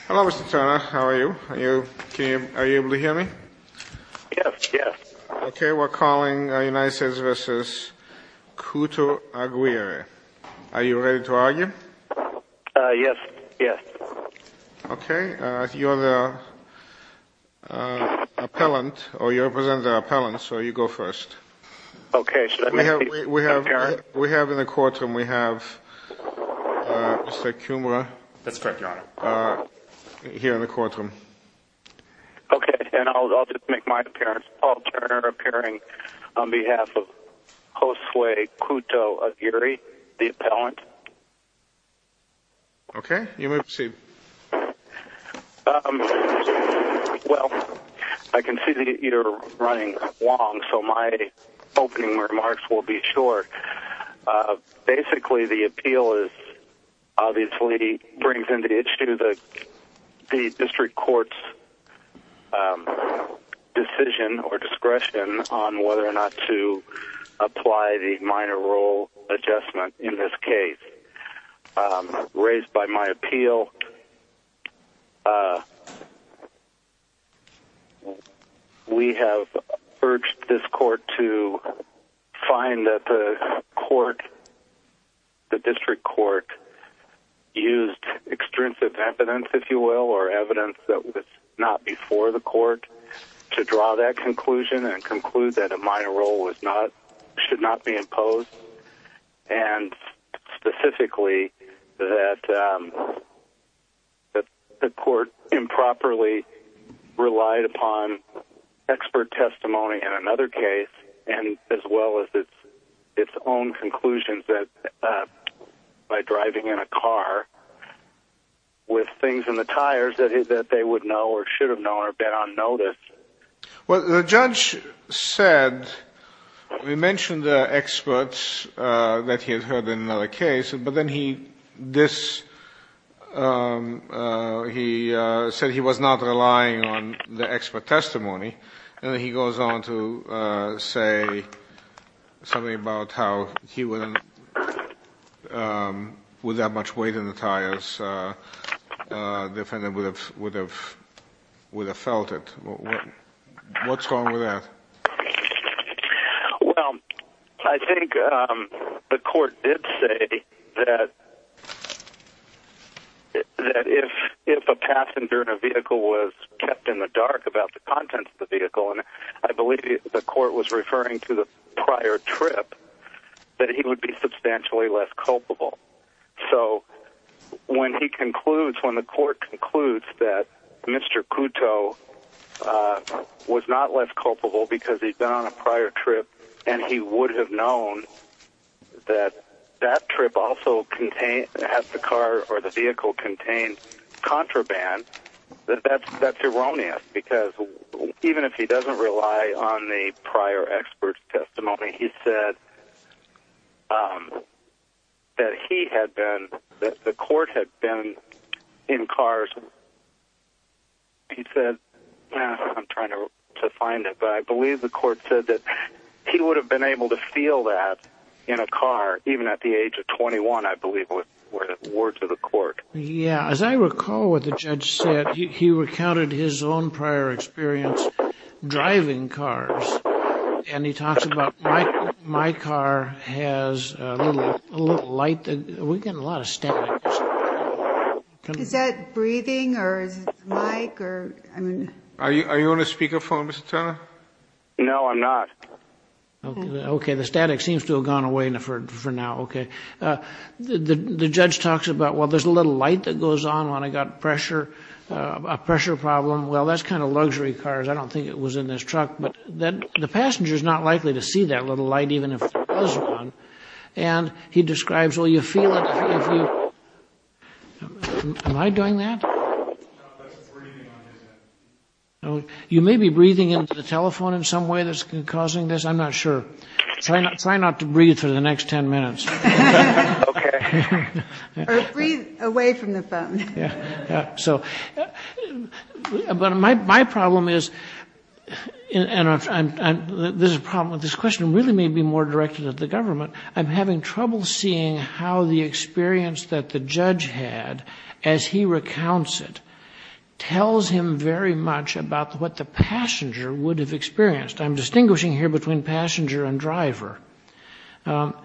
Hello, Mr. Turner. How are you? Are you able to hear me? Yes, yes. Okay, we're calling United States v. Couto-Aguirre. Are you ready to argue? Yes, yes. Okay, you're the appellant, or you're representing the appellant, so you go first. Okay, should I make my appearance? We have in the courtroom, we have Mr. Kumra here in the courtroom. Okay, and I'll just make my appearance. Paul Turner appearing on behalf of Josue Couto-Aguirre, the appellant. Okay, you may proceed. Well, I can see that you're running long, so my opening remarks will be short. Basically, the appeal obviously brings into issue the district court's decision or discretion on whether or not to apply the minor rule adjustment in this case. Raised by my appeal, we have urged this court to find that the court, the district court, used extrinsic evidence, if you will, or evidence that was not before the court, to draw that conclusion and conclude that a minor rule should not be imposed, and specifically that the court improperly relied upon expert testimony in another case, as well as its own conclusions by driving in a car with things in the tires that they would know or should have known or had been on notice. Well, the judge said, he mentioned the experts that he had heard in another case, but then he said he was not relying on the expert testimony, and then he goes on to say something about how he wouldn't, with that much weight in the tires, the defendant would have felt it. What's wrong with that? Well, I think the court did say that if a passenger in a vehicle was kept in the dark about the contents of the vehicle, and I believe the court was referring to the prior trip, that he would be substantially less culpable. So when he concludes, when the court concludes that Mr. Couto was not less culpable because he'd been on a prior trip and he would have known that that trip also contained, that the car or the vehicle contained contraband, that's erroneous, because even if he doesn't rely on the prior expert testimony, he said that he had been, that the court had been in cars, he said, I'm trying to find it, but I believe the court said that he would have been able to feel that in a car, even at the age of 21, I believe were the words of the court. Yeah, as I recall what the judge said, he recounted his own prior experience driving cars, and he talks about my car has a little light, we're getting a lot of static. Is that breathing or is it the mic? Are you on a speakerphone, Mr. Turner? No, I'm not. Okay, the static seems to have gone away for now. Okay. The judge talks about, well, there's a little light that goes on when I got pressure, a pressure problem. Well, that's kind of luxury cars. I don't think it was in this truck, but then the passenger is not likely to see that little light, even if it was on. And he describes, well, you feel it. Am I doing that? You may be breathing into the telephone in some way that's causing this. I'm not sure. Try not to breathe for the next 10 minutes. Okay. Or breathe away from the phone. Yeah. So, but my problem is, and there's a problem with this question. It really may be more directed at the government. I'm having trouble seeing how the experience that the judge had, as he recounts it, tells him very much about what the passenger would have experienced. I'm distinguishing here between passenger and driver. And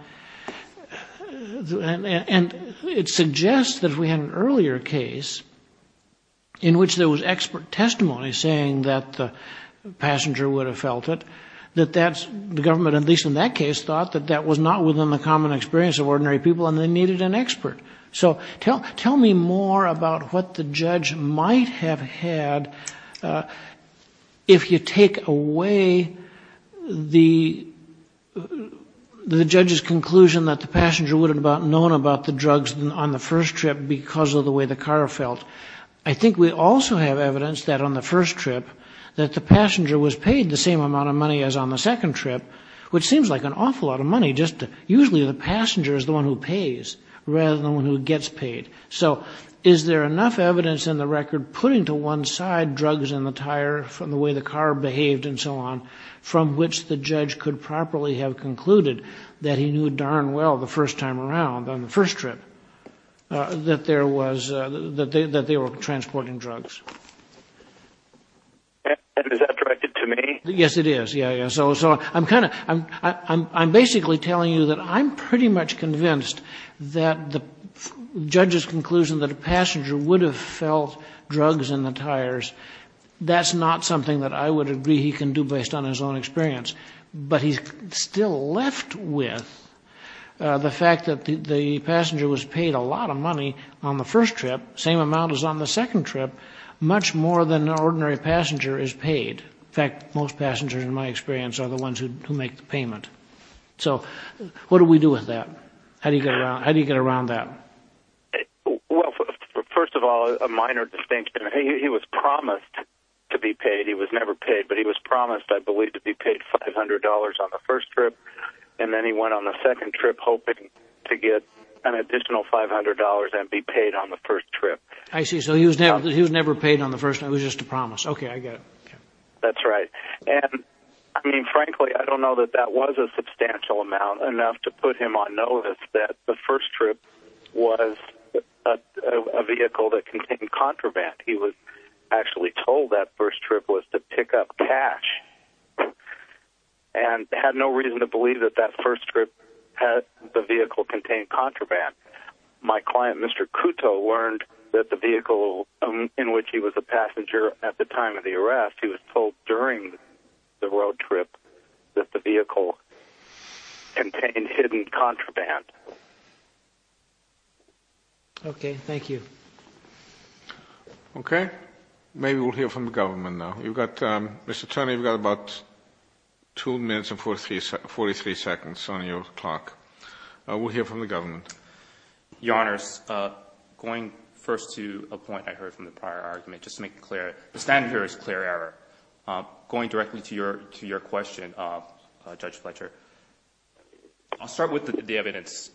it suggests that if we had an earlier case in which there was expert testimony saying that the passenger would have felt it, that the government, at least in that case, thought that that was not within the common experience of ordinary people and they needed an expert. So tell me more about what the judge might have had if you take away the judge's conclusion that the passenger would have known about the drugs on the first trip because of the way the car felt. I think we also have evidence that on the first trip that the passenger was paid the same amount of money as on the second trip, which seems like an awful lot of money. Usually the passenger is the one who pays rather than the one who gets paid. So is there enough evidence in the record putting to one side drugs in the tire from the way the car behaved and so on, from which the judge could properly have concluded that he knew darn well the first time around, on the first trip, that they were transporting drugs? Is that directed to me? Yes, it is. I'm basically telling you that I'm pretty much convinced that the judge's conclusion that a passenger would have felt drugs in the tires, that's not something that I would agree he can do based on his own experience. But he's still left with the fact that the passenger was paid a lot of money on the first trip, same amount as on the second trip, much more than an ordinary passenger is paid. In fact, most passengers, in my experience, are the ones who make the payment. So what do we do with that? How do you get around that? Well, first of all, a minor distinction. He was promised to be paid. He was never paid. But he was promised, I believe, to be paid $500 on the first trip, and then he went on the second trip hoping to get an additional $500 and be paid on the first trip. I see. So he was never paid on the first. It was just a promise. Okay, I get it. That's right. And, I mean, frankly, I don't know that that was a substantial amount, enough to put him on notice that the first trip was a vehicle that contained contraband. He was actually told that first trip was to pick up cash and had no reason to believe that that first trip had the vehicle contain contraband. My client, Mr. Kuto, learned that the vehicle in which he was a passenger at the time of the arrest, he was told during the road trip that the vehicle contained hidden contraband. Okay, thank you. Okay. Maybe we'll hear from the government now. Mr. Turner, you've got about two minutes and 43 seconds on your clock. We'll hear from the government. Your Honors, going first to a point I heard from the prior argument, just to make it clear, the standard here is clear error. Going directly to your question, Judge Fletcher, I'll start with the evidence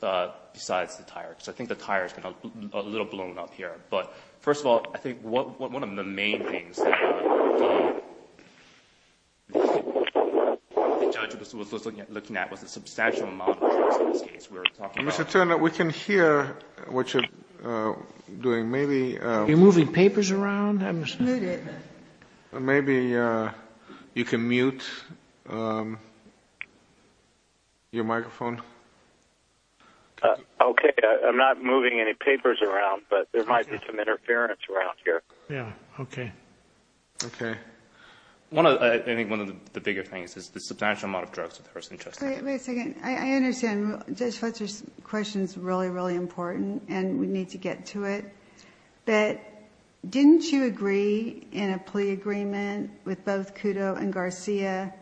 besides the tire, because I think the tire has been a little blown up here. But, first of all, I think one of the main things that the judge was looking at was the substantial amount of drugs in this case we're talking about. Mr. Turner, we can hear what you're doing. Are you moving papers around? Maybe you can mute your microphone. Okay, I'm not moving any papers around, but there might be some interference around here. Yeah, okay. Okay. I think one of the bigger things is the substantial amount of drugs. Wait a second. I understand. Judge Fletcher's question is really, really important, and we need to get to it. But didn't you agree in a plea agreement with both Cudo and Garcia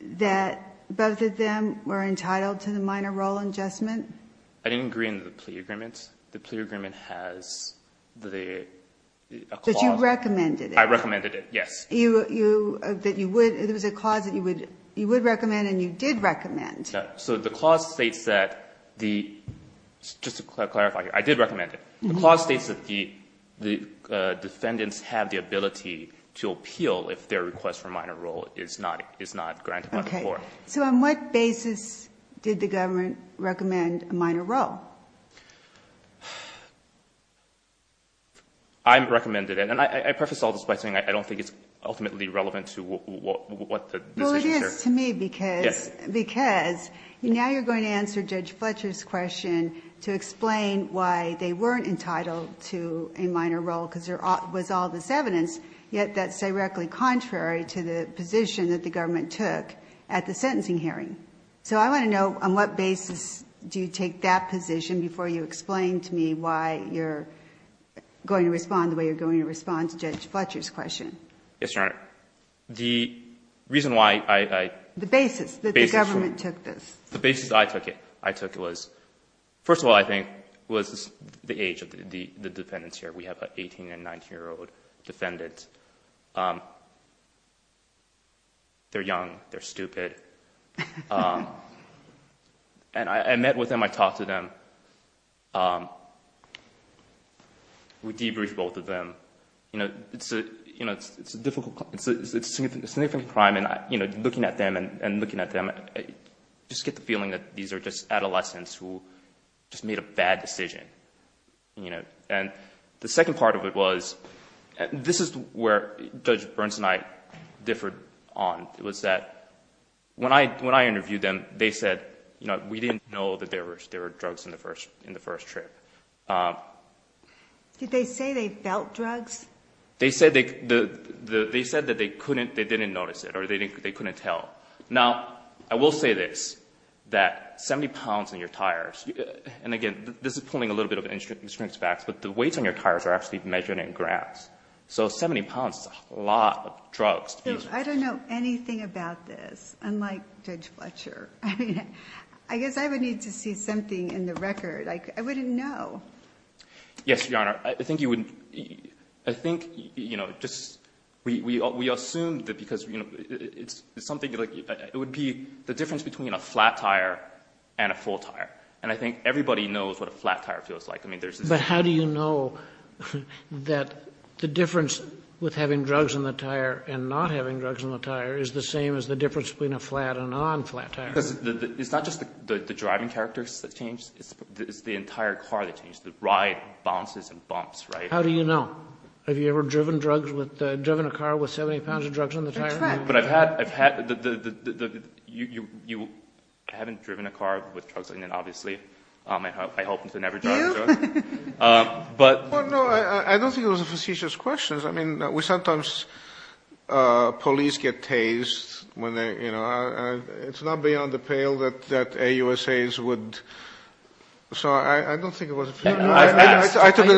that both of them were entitled to the minor role adjustment? I didn't agree in the plea agreement. The plea agreement has the clause. But you recommended it. I recommended it, yes. There was a clause that you would recommend and you did recommend. So the clause states that the defendants have the ability to appeal if their request for a minor role is not granted by the court. So on what basis did the government recommend a minor role? I recommended it. And I preface all this by saying I don't think it's ultimately relevant to what the decision is here. Well, it is to me because now you're going to answer Judge Fletcher's question to explain why they weren't entitled to a minor role because there was all this evidence, yet that's directly contrary to the position that the government took at the sentencing hearing. So I want to know on what basis do you take that position before you explain to me why you're going to respond the way you're going to respond to Judge Fletcher's question? Yes, Your Honor. The reason why I – The basis that the government took this. The basis I took it. I took it was, first of all, I think was the age of the defendants here. We have an 18- and 19-year-old defendant. They're young. They're stupid. And I met with them. I talked to them. We debriefed both of them. You know, it's a difficult – it's a significant crime. And, you know, looking at them and looking at them, I just get the feeling that these are just adolescents who just made a bad decision. You know, and the second part of it was – this is where Judge Burns and I differed on. It was that when I interviewed them, they said, you know, we didn't know that there were drugs in the first trip. Did they say they felt drugs? They said that they couldn't – they didn't notice it or they couldn't tell. Now, I will say this, that 70 pounds on your tires – and, again, this is pulling a little bit of insurance facts, but the weights on your tires are actually measured in grams. So 70 pounds is a lot of drugs. I don't know anything about this, unlike Judge Fletcher. I mean, I guess I would need to see something in the record. I wouldn't know. Yes, Your Honor. I think you would – I think, you know, just we assumed that because, you know, it would be the difference between a flat tire and a full tire. And I think everybody knows what a flat tire feels like. I mean, there's this – But how do you know that the difference with having drugs in the tire and not having drugs in the tire is the same as the difference between a flat and non-flat tire? Because it's not just the driving characters that change. It's the entire car that changes, the ride, bounces, and bumps, right? How do you know? Have you ever driven drugs with – driven a car with 70 pounds of drugs on the tire? But I've had – you haven't driven a car with drugs on it, obviously. I hope you've never driven a car with drugs. But – No, I don't think it was a facetious question. I mean, we sometimes – police get tased when they, you know – it's not beyond the pale that AUSAs would – so I don't think it was a – I took it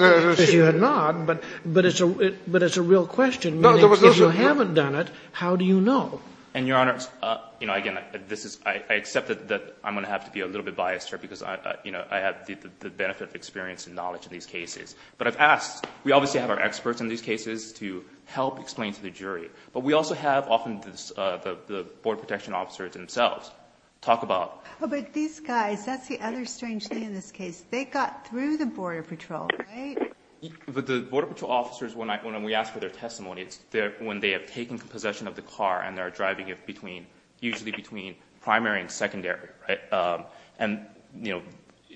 as a – Because you had not, but it's a real question. If you haven't done it, how do you know? And, Your Honor, you know, again, this is – I accept that I'm going to have to be a little bit biased here because, you know, I have the benefit of experience and knowledge in these cases. But I've asked – we obviously have our experts in these cases to help explain to the jury. But we also have often the border protection officers themselves talk about – But these guys, that's the other strange thing in this case. They got through the border patrol, right? But the border patrol officers, when we ask for their testimony, it's when they have taken possession of the car and they're driving it between – usually between primary and secondary, right? And, you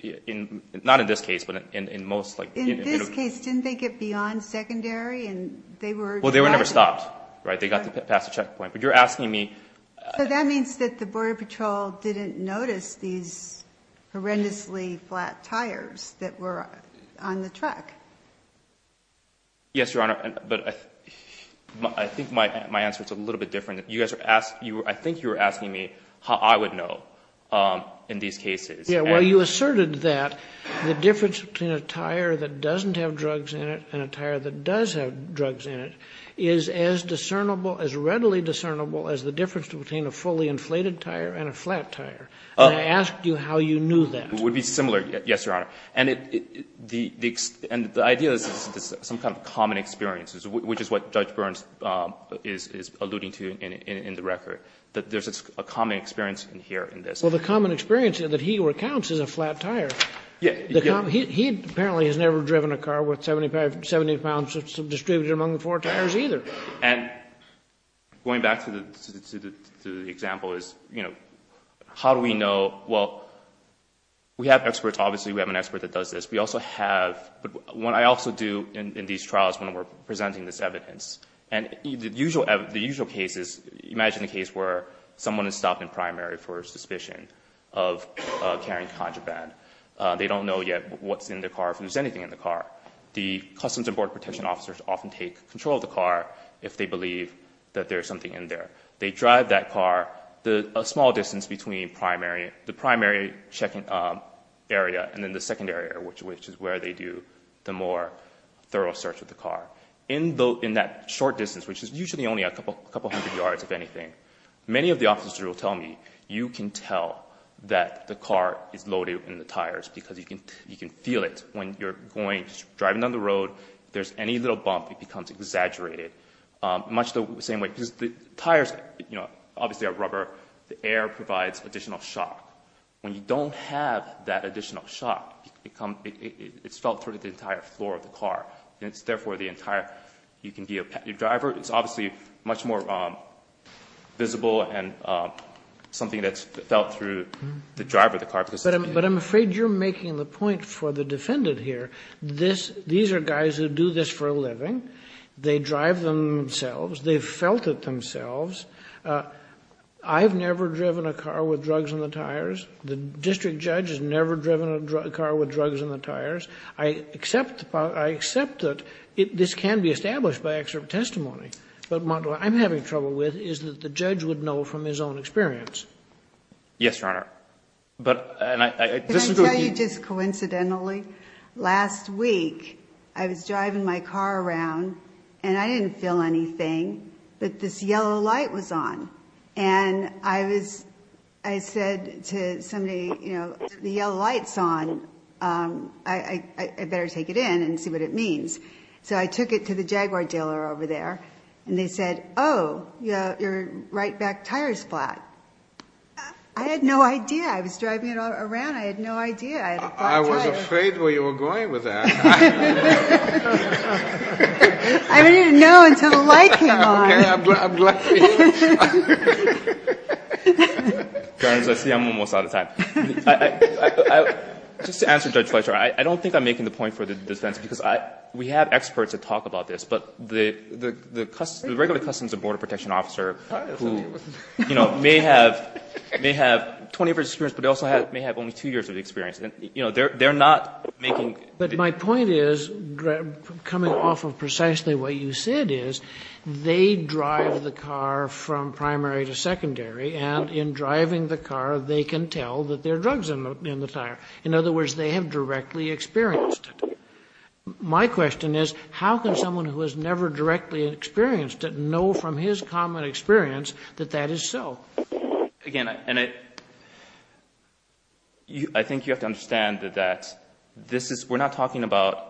know, not in this case, but in most – In this case, didn't they get beyond secondary? And they were driving – Well, they were never stopped, right? They got past the checkpoint. But you're asking me – So that means that the border patrol didn't notice these horrendously flat tires that were on the track. Yes, Your Honor. But I think my answer is a little bit different. You guys are – I think you were asking me how I would know in these cases. Well, you asserted that the difference between a tire that doesn't have drugs in it and a tire that does have drugs in it is as discernible, as readily discernible as the difference between a fully inflated tire and a flat tire. And I asked you how you knew that. It would be similar, yes, Your Honor. And the idea is some kind of common experience, which is what Judge Burns is alluding to in the record, that there's a common experience here in this. Well, the common experience that he recounts is a flat tire. Yes. He apparently has never driven a car worth 70 pounds distributed among four tires either. And going back to the example is, you know, how do we know – we have experts. Obviously, we have an expert that does this. We also have – what I also do in these trials when we're presenting this evidence – and the usual case is, imagine a case where someone is stopped in primary for suspicion of carrying contraband. They don't know yet what's in the car, if there's anything in the car. The Customs and Border Protection officers often take control of the car if they believe that there's something in there. They drive that car a small distance between the primary area and then the secondary area, which is where they do the more thorough search of the car. In that short distance, which is usually only a couple hundred yards, if anything, many of the officers will tell me, you can tell that the car is loaded in the tires because you can feel it when you're driving down the road. If there's any little bump, it becomes exaggerated much the same way because the tires obviously are rubber. The air provides additional shock. When you don't have that additional shock, it's felt through the entire floor of the car, and it's therefore the entire – you can be a driver. It's obviously much more visible and something that's felt through the driver of the car. But I'm afraid you're making the point for the defendant here. These are guys who do this for a living. They drive themselves. They've felt it themselves. I've never driven a car with drugs in the tires. The district judge has never driven a car with drugs in the tires. I accept that this can be established by extra testimony, but what I'm having trouble with is that the judge would know from his own experience. Yes, Your Honor. Can I tell you just coincidentally? Last week I was driving my car around, and I didn't feel anything, but this yellow light was on. And I said to somebody, you know, the yellow light's on. I better take it in and see what it means. So I took it to the Jaguar dealer over there, and they said, oh, your right back tire's flat. I had no idea. I was driving it around. I had no idea. I was afraid where you were going with that. I didn't even know until the light came on. Okay. I'm glad for you. Your Honor, as I see, I'm almost out of time. Just to answer Judge Fleisher, I don't think I'm making the point for the defense, because we have experts that talk about this, but the regular customs and border protection officer who, you know, may have 20 years of experience, but also may have only two years of experience. You know, they're not making the point. But my point is, coming off of precisely what you said is, they drive the car from primary to secondary, and in driving the car, they can tell that there are drugs in the tire. In other words, they have directly experienced it. My question is, how can someone who has never directly experienced it know from his common experience that that is so? Again, I think you have to understand that this is, we're not talking about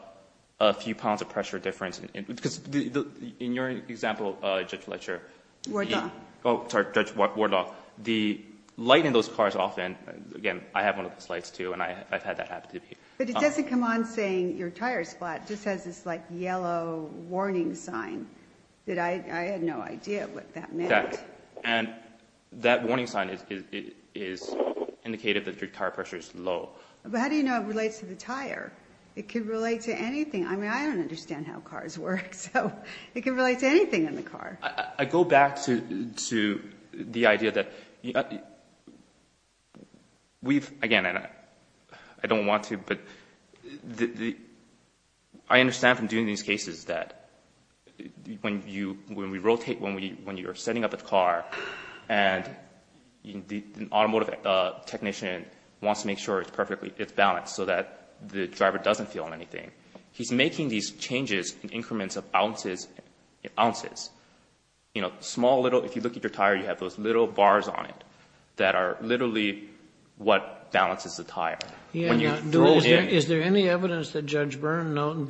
a few pounds of pressure difference. Because in your example, Judge Fleisher. Wardlock. Oh, sorry, Judge Wardlock. The light in those cars often, again, I have one of those lights, too, and I've had that happen to me. But it doesn't come on saying your tire is flat. It just has this, like, yellow warning sign that I had no idea what that meant. And that warning sign is indicative that your tire pressure is low. But how do you know it relates to the tire? It could relate to anything. I mean, I don't understand how cars work. So it can relate to anything in the car. I go back to the idea that we've, again, and I don't want to, but I understand from doing these cases that when we rotate, when you're setting up a car and the automotive technician wants to make sure it's perfectly, it's balanced so that the driver doesn't feel anything, he's making these changes in increments of ounces. You know, small, little, if you look at your tire, you have those little bars on it that are literally what balances the tire. Is there any evidence that Judge Byrne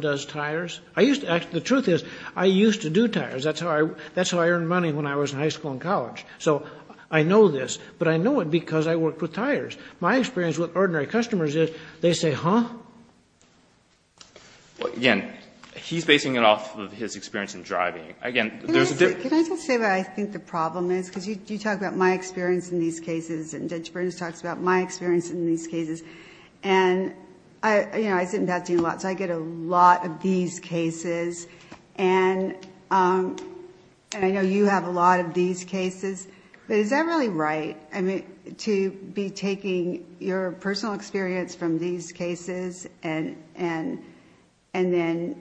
does tires? The truth is I used to do tires. That's how I earned money when I was in high school and college. So I know this, but I know it because I worked with tires. My experience with ordinary customers is they say, huh? Again, he's basing it off of his experience in driving. Again, there's a difference. Can I just say what I think the problem is? Because you talk about my experience in these cases, and Judge Byrne just talks about my experience in these cases. I sit in passing a lot, so I get a lot of these cases. I know you have a lot of these cases, but is that really right? I mean, to be taking your personal experience from these cases and then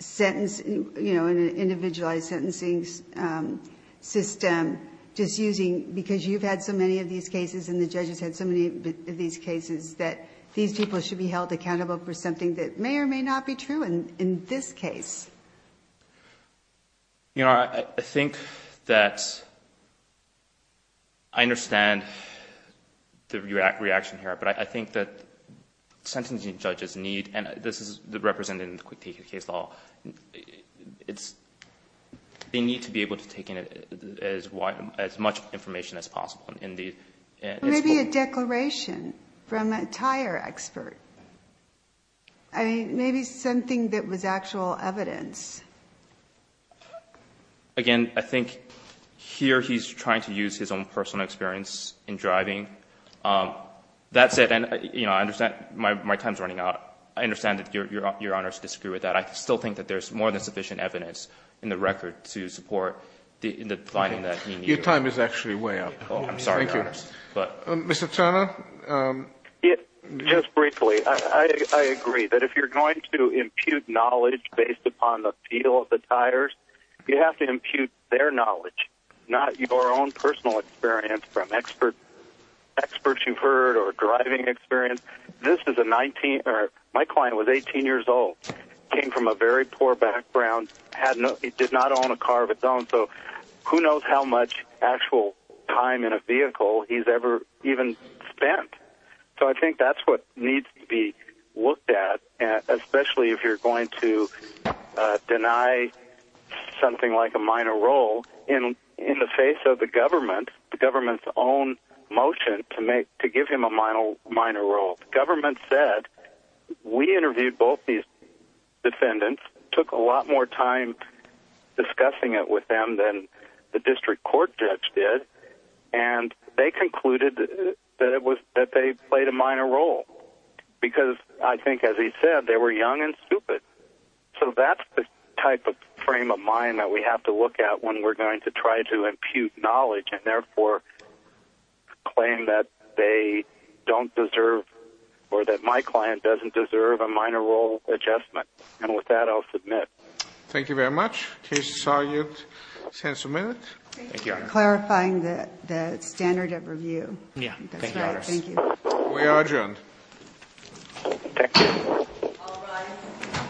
sentence, you know, in an individualized sentencing system, just using, because you've had so many of these cases and the judges had so many of these cases, that these people should be held accountable for something that may or may not be true in this case. You know, I think that I understand the reaction here, but I think that sentencing judges need, and this is represented in the Quick Take of the Case Law, they need to be able to take in as much information as possible Maybe a declaration from a tire expert. I mean, maybe something that was actual evidence. Again, I think here he's trying to use his own personal experience in driving. That said, you know, I understand my time's running out. I understand that Your Honors disagree with that. I still think that there's more than sufficient evidence in the record to support the finding that he needed. Your time is actually way up. I'm sorry, Your Honors. Mr. Turner? Just briefly, I agree that if you're going to impute knowledge based upon the feel of the tires, you have to impute their knowledge, not your own personal experience from experts you've heard or driving experience. My client was 18 years old, came from a very poor background, did not own a car of his own, so who knows how much actual time in a vehicle he's ever even spent. So I think that's what needs to be looked at, especially if you're going to deny something like a minor role in the face of the government, the government's own motion to give him a minor role. The government said, we interviewed both these defendants, took a lot more time discussing it with them than the district court judge did, and they concluded that they played a minor role because I think, as he said, they were young and stupid. So that's the type of frame of mind that we have to look at when we're going to try to impute knowledge and therefore claim that they don't deserve or that my client doesn't deserve a minor role adjustment. And with that, I'll submit. Thank you very much. Case is argued. Senator Minut. Thank you for clarifying the standard of review. Yeah. Thank you. We are adjourned. Thank you.